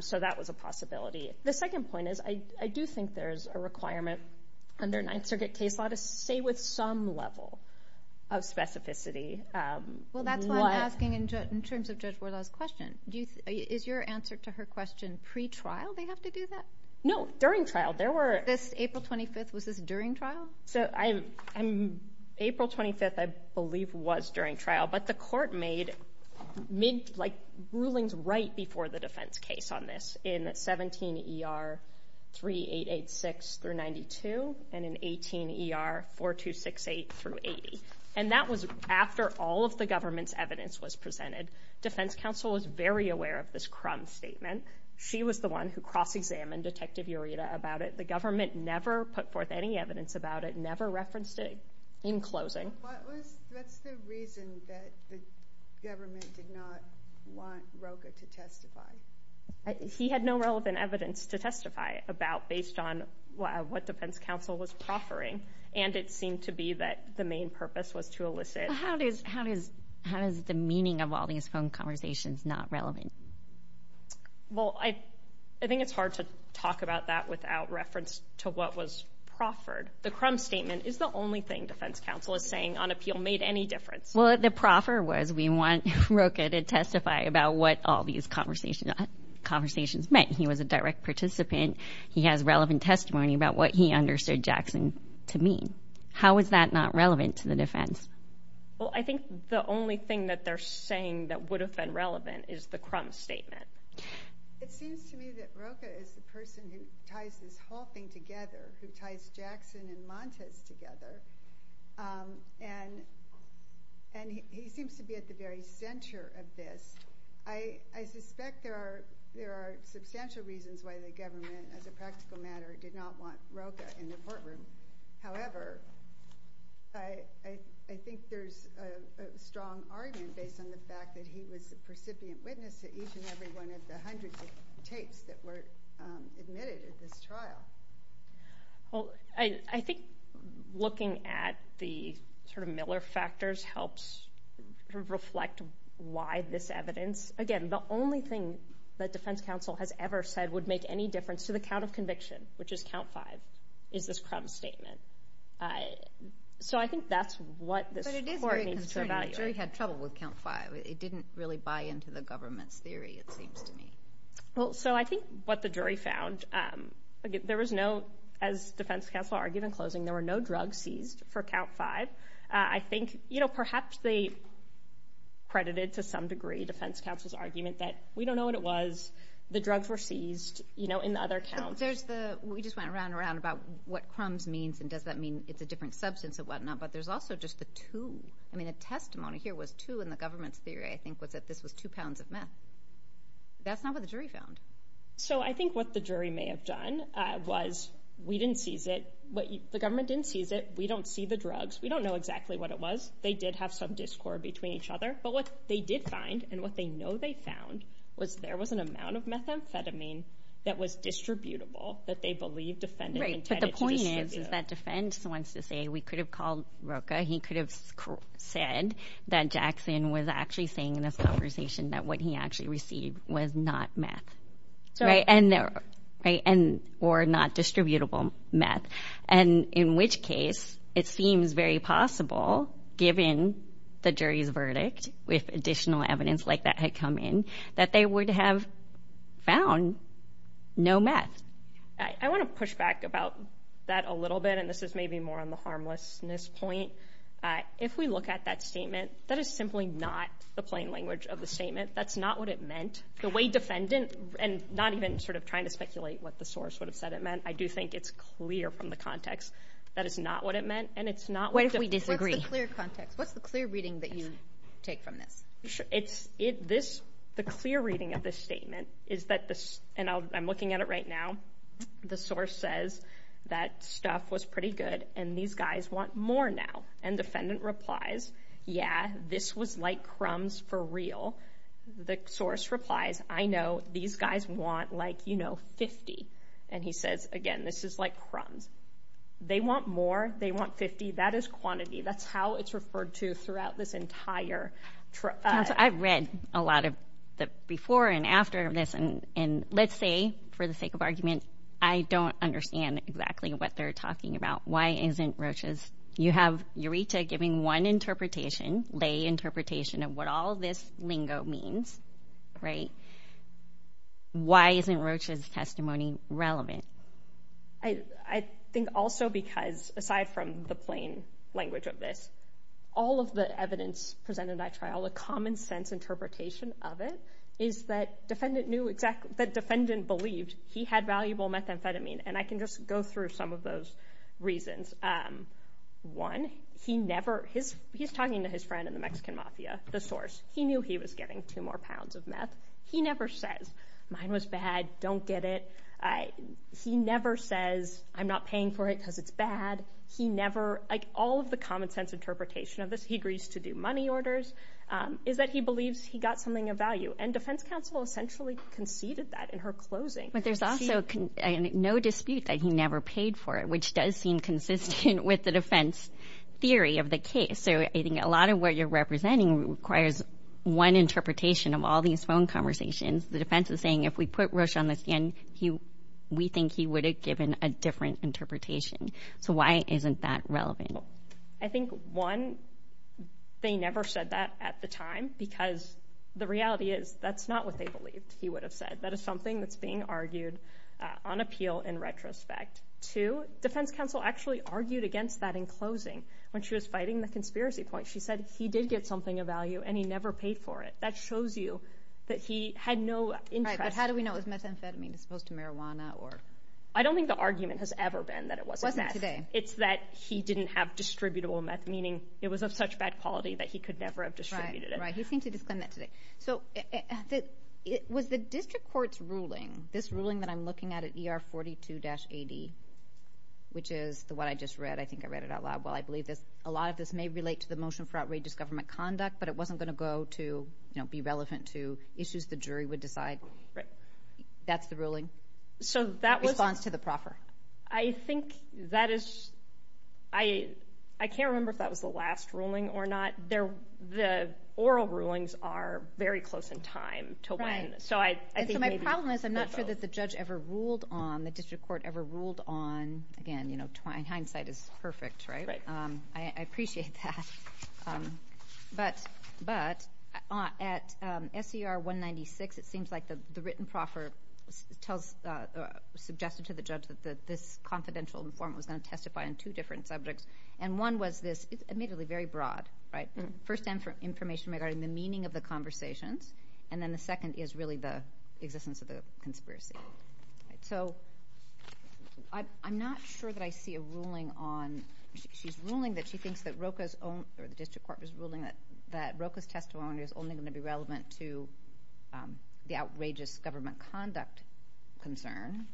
So that was a possibility. The second point is I do think there's a requirement under Ninth Circuit case law to stay with some level of specificity. Well, that's what I'm asking in terms of Judge Wardlaw's question. Is your answer to her question pre-trial they have to do that? No, during trial. There were... This April 25th, was this during trial? So April 25th, I believe, was during trial. But the court made rulings right before the defense case on this in 17 ER 3886 through 92 and in 18 ER 4268 through 80. And that was after all of the government's evidence was presented. Defense counsel was very aware of this Crum statement. She was the one who cross-examined Detective Ureta about it. The government never put forth any evidence about it, never referenced it in closing. What's the reason that the government did not want Rocha to testify? He had no relevant evidence to testify about based on what defense counsel was proffering. And it seemed to be that the main purpose was to elicit... How is the meaning of all these phone conversations not relevant? Well, I think it's hard to talk about that without reference to what was proffered. The Crum statement is the only thing defense counsel is saying on appeal made any difference. Well, the proffer was we want Rocha to testify about what all these conversations meant. He was a direct participant. He has relevant testimony about what he understood Jackson to mean. How is that not relevant to the defense? Well, I think the only thing that they're saying that would have been relevant is the Crum statement. It seems to me that Rocha is the person who ties this whole thing together, who ties Jackson and Montes together. And he seems to be at the very center of this. I suspect there are substantial reasons why the government, as a practical matter, did not want Rocha in the courtroom. However, I think there's a strong argument based on the fact that he was the precipient witness to each and every one of the hundreds of tapes that were admitted at this trial. Well, I think looking at the sort of Miller factors helps reflect why this evidence, again, the only thing that defense counsel has ever said would make any difference to the count of conviction, which is count five, is this Crum statement. So I think that's what this court needs to evaluate. The jury had trouble with count five. It didn't really buy into the government's theory, it seems to me. Well, so I think what the jury found, there was no, as defense counsel argued in closing, there were no drugs seized for count five. I think, you know, perhaps they credited to some degree defense counsel's argument that we don't know what it was, the drugs were seized, you know, in the other count. There's the, we just went around and around about what Crum's means and does that mean it's a different substance and whatnot, but there's also just the two. I mean, a testimony here was two in the government's theory, I think, was that this was two pounds of meth. That's not what the jury found. So I think what the jury may have done was we didn't seize it. The government didn't seize it. We don't see the drugs. We don't know exactly what it was. They did have some discord between each other. But what they did find and what they know they found was there was an amount of methamphetamine that was distributable that they believe defendant intended to distribute. Right, but the point is, is that defense wants to say we could have called Roca. He could have said that Jackson was actually saying in this conversation that what he actually received was not meth or not distributable meth. And in which case, it seems very possible, given the jury's verdict with additional evidence like that had come in, that they would have found no meth. I want to push back about that a little bit, and this is maybe more on the harmlessness point. If we look at that statement, that is simply not the plain language of the statement. That's not what it meant. The way defendant, and not even sort of trying to speculate what the source would have said it meant, I do think it's clear from the context. That is not what it meant. And it's not... What if we disagree? What's the clear context? What's the clear reading that you take from this? The clear reading of this statement is that this, and I'm looking at it right now, the source says that stuff was pretty good, and these guys want more now. And defendant replies, yeah, this was like crumbs for real. The source replies, I know, these guys want like, you know, 50. And he says, again, this is like crumbs. They want more. They want 50. That is quantity. That's how it's referred to throughout this entire... I've read a lot of the before and after of this, and let's say, for the sake of argument, I don't understand exactly what they're talking about. Why isn't roaches? You have Eureta giving one interpretation, lay interpretation of what all this lingo means, right? Why isn't roaches testimony relevant? I think also because, aside from the plain language of this, all of the evidence presented by trial, the common sense interpretation of it, is that defendant knew exactly... That defendant believed he had valuable methamphetamine. And I can just go through some of those reasons. One, he never... He's talking to his friend in the Mexican mafia, the source. He knew he was getting two more pounds of meth. He never says, mine was bad, don't get it. He never says, I'm not paying for it because it's bad. He never... Like all of the common sense interpretation of this, he agrees to do money orders, is that he believes he got something of value. And defense counsel essentially conceded that in her closing. But there's also no dispute that he never paid for it, which does seem consistent with the defense theory of the case. So I think a lot of what you're representing requires one interpretation of all these phone conversations. The defense is saying, if we put Roche on the stand, we think he would have given a different interpretation. So why isn't that relevant? I think, one, they never said that at the time, because the reality is that's not what they believed he would have said. That is something that's being argued on appeal in retrospect. Two, defense counsel actually argued against that in closing when she was fighting the conspiracy point. She said, he did get something of value and he never paid for it. That shows you that he had no interest... Right, but how do we know it was methamphetamine as opposed to marijuana or... I don't think the argument has ever been that it wasn't meth. Wasn't today. It's that he didn't have distributable meth, meaning it was of such bad quality that he could never have distributed it. Right, he seemed to disclaim that today. So was the district court's ruling, this ruling that I'm looking at at ER 42-AD, which is the one I just read. I think I read it out loud. Well, I believe this, a lot of this may relate to the motion for outrageous government conduct, but it wasn't going to go to, you know, be relevant to issues the jury would decide. Right. That's the ruling. So that was... Response to the proffer. I think that is, I can't remember if that was the last ruling or not. They're, the oral rulings are very close in time to when. So I think maybe... So my problem is I'm not sure that the judge ever ruled on, the district court ever ruled on, again, you know, hindsight is perfect, right? Right. I appreciate that. But at SER 196, it seems like the written proffer tells, suggested to the judge that this confidential informant was going to testify on two different subjects. And one was this, it's admittedly very broad, right? First time for information regarding the meaning of the conversations. And then the second is really the existence of the conspiracy. So I'm not sure that I see a ruling on, she's ruling that she thinks that Roka's own, or the district court was ruling that Roka's testimony is only going to be relevant to the outrageous government conduct concern.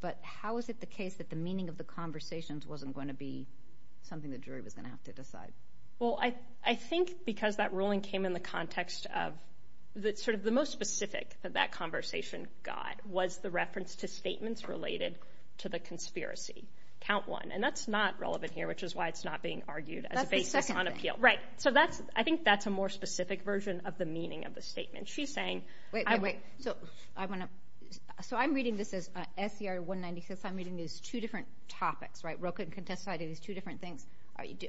But how is it the case that the meaning of the conversations wasn't going to be something the jury was going to have to decide? Well, I think because that ruling came in the context of, that sort of the most specific that that conversation got was the reference to statements related to the conspiracy. Count one. And that's not relevant here, which is why it's not being argued as a basis on appeal. Right. So that's, I think that's a more specific version of the meaning of the statement. She's saying... Wait, wait, wait. So I want to... So I'm reading this as SER 196. I'm reading these two different topics, right? Roka can testify to these two different things.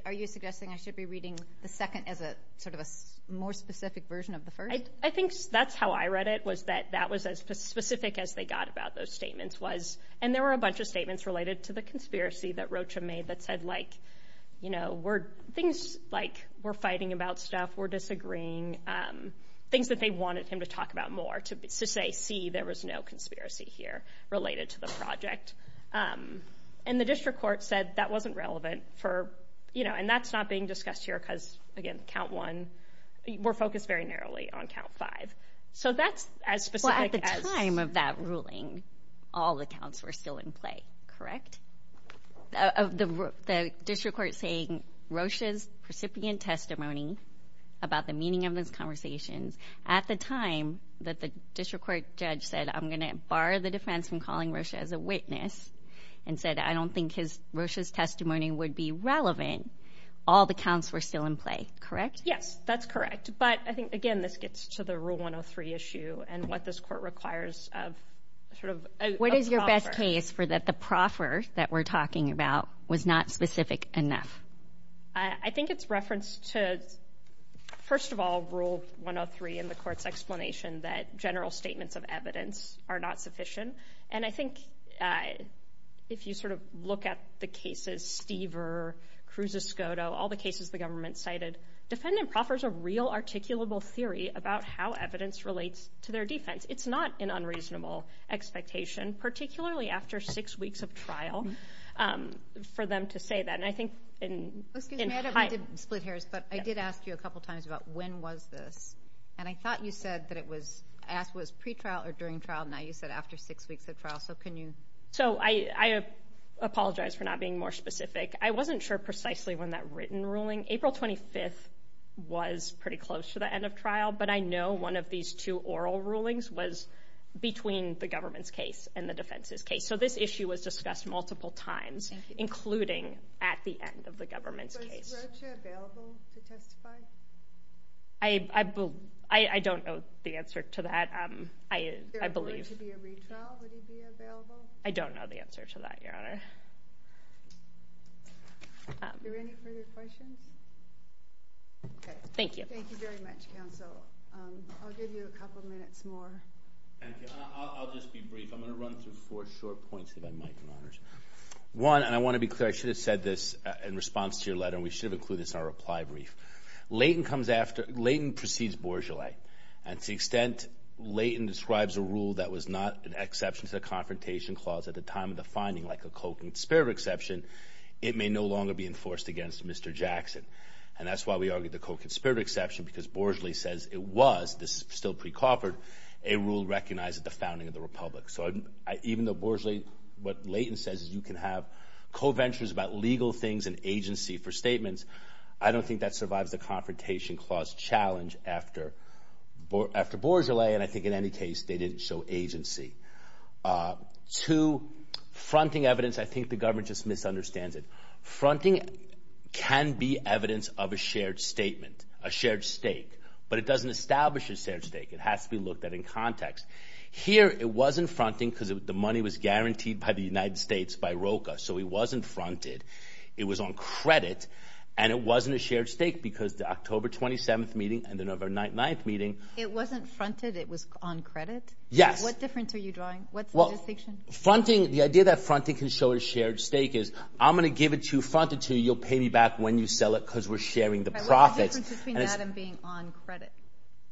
Are you suggesting I should be reading the second as a sort of a more specific version of the first? I think that's how I read it, was that that was as specific as they got about those statements was, and there were a bunch of statements related to the conspiracy that Rocha made that said like, you know, things like we're fighting about stuff, we're disagreeing, things that they wanted him to talk about more to say, see, there was no conspiracy here related to the project. Um, and the district court said that wasn't relevant for, you know, and that's not being discussed here, because again, count one, we're focused very narrowly on count five. So that's as specific as... Well, at the time of that ruling, all the counts were still in play, correct? Of the district court saying Rocha's recipient testimony about the meaning of those conversations at the time that the district court judge said, I'm going to bar the defense from calling Rocha as a witness, and said, I don't think his Rocha's testimony would be relevant. All the counts were still in play, correct? Yes, that's correct. But I think, again, this gets to the rule 103 issue and what this court requires of sort of... What is your best case for that the proffer that we're talking about was not specific enough? I think it's referenced to, first of all, rule 103 in the court's explanation that general statements of evidence are not sufficient. And I think if you sort of look at the cases, Stever, Cruz's SCOTO, all the cases the government cited, defendant proffers a real articulable theory about how evidence relates to their defense. It's not an unreasonable expectation, particularly after six weeks of trial, for them to say that. And I think in... Excuse me, I don't want to split hairs, but I did ask you a couple of times about when was this? And I thought you said that it was pre-trial or during trial. Now you said after six weeks of trial. So can you... So I apologize for not being more specific. I wasn't sure precisely when that written ruling... April 25th was pretty close to the end of trial, but I know one of these two oral rulings was between the government's case and the defense's case. So this issue was discussed multiple times, including at the end of the government's case. Was Rocha available to testify? I don't know the answer to that. If there were to be a retrial, would he be available? I don't know the answer to that, Your Honor. Are there any further questions? Okay. Thank you. Thank you very much, counsel. I'll give you a couple of minutes more. Thank you. I'll just be brief. I'm going to run through four short points if I might, Your Honors. One, and I want to be clear, I should have said this in response to your letter. We should have included this in our reply brief. Leighton comes after... Leighton precedes Bourgeollais. And to the extent Leighton describes a rule that was not an exception to the Confrontation Clause at the time of the finding, like a co-conspirator exception, it may no longer be enforced against Mr. Jackson. And that's why we argued the co-conspirator exception, because Bourgeollais says it was, this is still pre-coffered, a rule recognized at the founding of the Republic. So even though Bourgeollais... What Leighton says is you can have co-ventures about legal things and agency for statements, I don't think that survives the Confrontation Clause challenge after Bourgeollais. And I think in any case, they didn't show agency. Two, fronting evidence. I think the government just misunderstands it. Fronting can be evidence of a shared statement, a shared stake, but it doesn't establish a shared stake. It has to be looked at in context. Here, it wasn't fronting because the money was guaranteed by the United States by ROCA. So it wasn't fronted. It was on credit. And it wasn't a shared stake because the October 27th meeting and the November 9th meeting... It wasn't fronted. It was on credit? Yes. What difference are you drawing? What's the distinction? Fronting, the idea that fronting can show a shared stake is, I'm going to give it to you, front it to you, you'll pay me back when you sell it because we're sharing the profits. What's the difference between that and being on credit?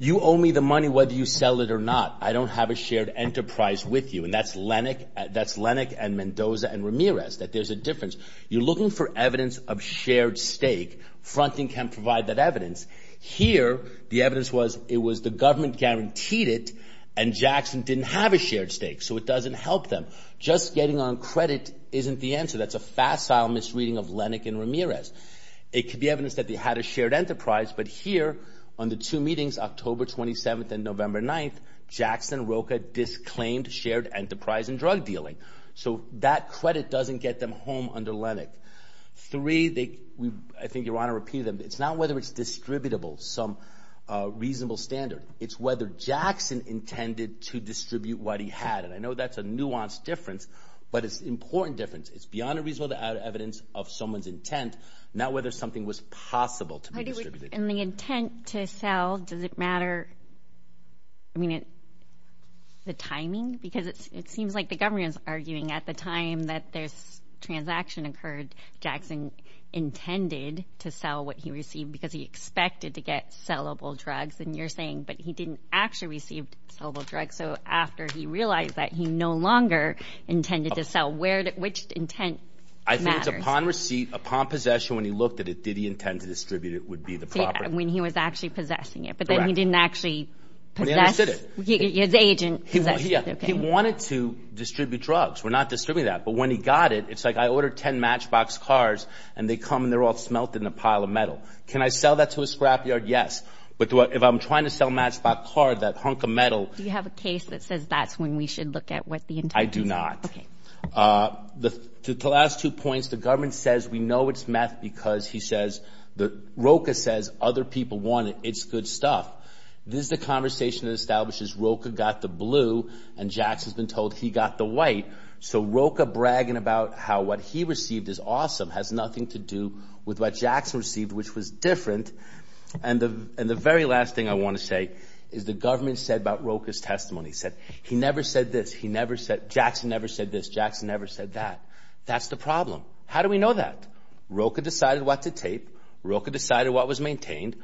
You owe me the money whether you sell it or not. I don't have a shared enterprise with you. And that's Lennox and Mendoza and Ramirez, that there's a difference. You're looking for evidence of shared stake. Fronting can provide that evidence. Here, the evidence was, it was the government guaranteed it and Jackson didn't have a shared stake. So it doesn't help them. Just getting on credit isn't the answer. That's a facile misreading of Lennox and Ramirez. It could be evidence that they had a shared enterprise, but here on the two meetings, October 27th and November 9th, Jackson and ROCA disclaimed shared enterprise and drug dealing. So that credit doesn't get them home under Lennox. Three, I think Your Honor repeated them. It's not whether it's distributable, some reasonable standard. It's whether Jackson intended to distribute what he had. And I know that's a nuanced difference, but it's an important difference. It's beyond a reasonable evidence of someone's intent, not whether something was possible to be distributed. And the intent to sell, does it matter? I mean, the timing? Because it seems like the government's arguing at the time that this transaction occurred, Jackson intended to sell what he received because he expected to get sellable drugs. And you're saying, but he didn't actually receive sellable drugs. So after he realized that, he no longer intended to sell. Which intent matters? I think it's upon receipt, upon possession, when he looked at it, did he intend to distribute it would be the property. When he was actually possessing it, but then he didn't actually possess. But he understood it. His agent possessed it. He wanted to distribute drugs. We're not distributing that, but when he got it, it's like I ordered 10 Matchbox cars and they come and they're all smelt in a pile of metal. Can I sell that to a scrapyard? Yes. But if I'm trying to sell Matchbox car, that hunk of metal. Do you have a case that says that's when we should look at what the intent is? I do not. The last two points, the government says we know it's meth because he says, ROCA says other people want it. It's good stuff. This is the conversation that establishes ROCA got the blue and Jackson's been told he got the white. So ROCA bragging about how what he received is awesome has nothing to do with what Jackson received, which was different. And the very last thing I want to say is the government said about ROCA's testimony, said he never said this. Jackson never said this. Jackson never said that. That's the problem. How do we know that? ROCA decided what to tape. ROCA decided what was maintained.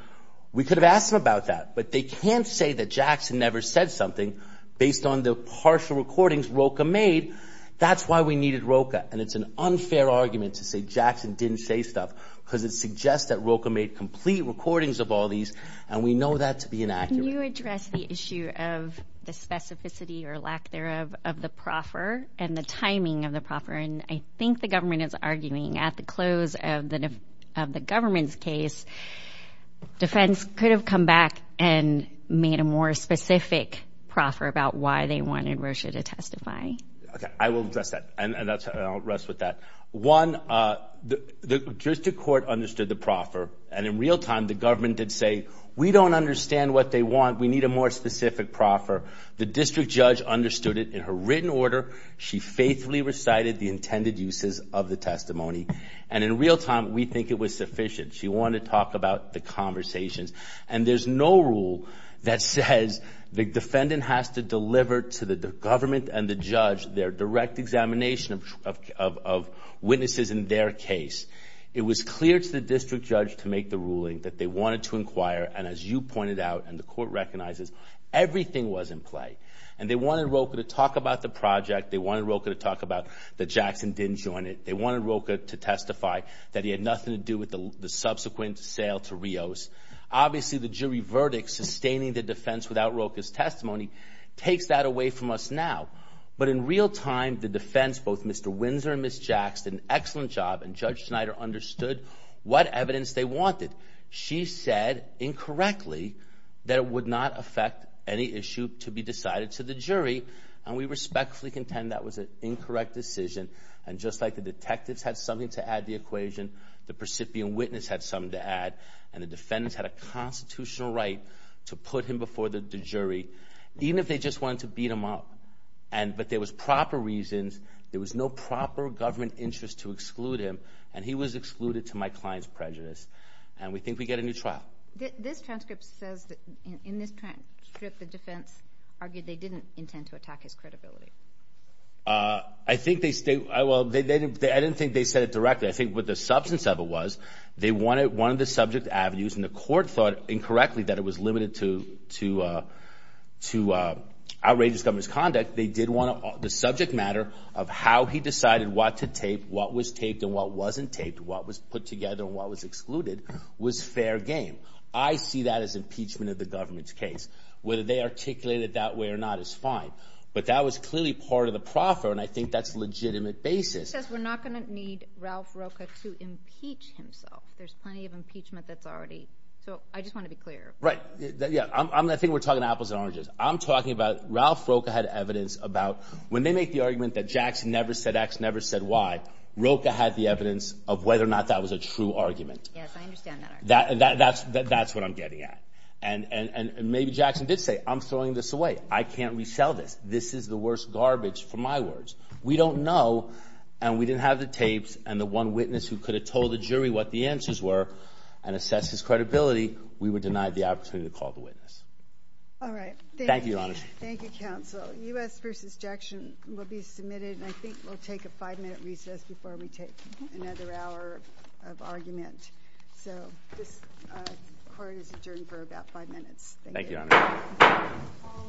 We could have asked them about that, but they can't say that Jackson never said something based on the partial recordings ROCA made that's why we needed ROCA. And it's an unfair argument to say Jackson didn't say stuff because it suggests that ROCA made complete recordings of all these. And we know that to be inaccurate. Can you address the issue of the specificity or lack thereof of the proffer and the timing of the proffer? And I think the government is arguing at the close of the government's case, defense could have come back and made a more specific proffer about why they wanted Rocha to testify. Okay, I will address that and I'll rest with that. One, the juristic court understood the proffer and in real time, the government did say, we don't understand what they want. We need a more specific proffer. The district judge understood it in her written order. She faithfully recited the intended uses of the testimony. And in real time, we think it was sufficient. She wanted to talk about the conversations and there's no rule that says the defendant has to deliver to the government and the judge, their direct examination of witnesses in their case. It was clear to the district judge to make the ruling that they wanted to inquire. And as you pointed out, and the court recognizes, everything was in play. And they wanted Rocha to talk about the project. They wanted Rocha to talk about the Jackson didn't join it. They wanted Rocha to testify that he had nothing to do with the subsequent sale to Rios. Obviously the jury verdict, sustaining the defense without Rocha's testimony, takes that away from us now. But in real time, the defense, both Mr. Windsor and Ms. Jacks did an excellent job. And Judge Schneider understood what evidence they wanted. She said incorrectly that it would not affect any issue to be decided to the jury. And we respectfully contend that was an incorrect decision. And just like the detectives had something to add the equation, the precipient witness had something to add and the defendants had a constitutional right to put him before the jury. Even if they just wanted to beat him up. But there was proper reasons. There was no proper government interest to exclude him. And he was excluded to my client's prejudice. And we think we get a new trial. This transcript says that in this transcript, the defense argued they didn't intend to attack his credibility. I think they, well, I didn't think they said it directly. I think what the substance of it was, they wanted one of the subject avenues and the court thought incorrectly that it was limited to outrageous government's conduct. The subject matter of how he decided what to tape, what was taped and what wasn't taped, what was put together and what was excluded was fair game. I see that as impeachment of the government's case. Whether they articulated it that way or not is fine. But that was clearly part of the proffer. And I think that's legitimate basis. He says we're not gonna need Ralph Rocha to impeach himself. There's plenty of impeachment that's already. So I just wanna be clear. Right, yeah, I think we're talking apples and oranges. I'm talking about Ralph Rocha had evidence about when they make the argument that Jackson never said X, never said Y, Rocha had the evidence of whether or not that was a true argument. Yes, I understand that argument. That's what I'm getting at. And maybe Jackson did say, I'm throwing this away. I can't resell this. This is the worst garbage for my words. We don't know and we didn't have the tapes and the one witness who could have told the jury what the answers were and assess his credibility, we would deny the opportunity to call the witness. All right. Thank you, Your Honor. Thank you, counsel. U.S. v. Jackson will be submitted. And I think we'll take a five-minute recess before we take another hour of argument. So this court is adjourned for about five minutes. Thank you, Your Honor. All rise. Thank you, Your Honor.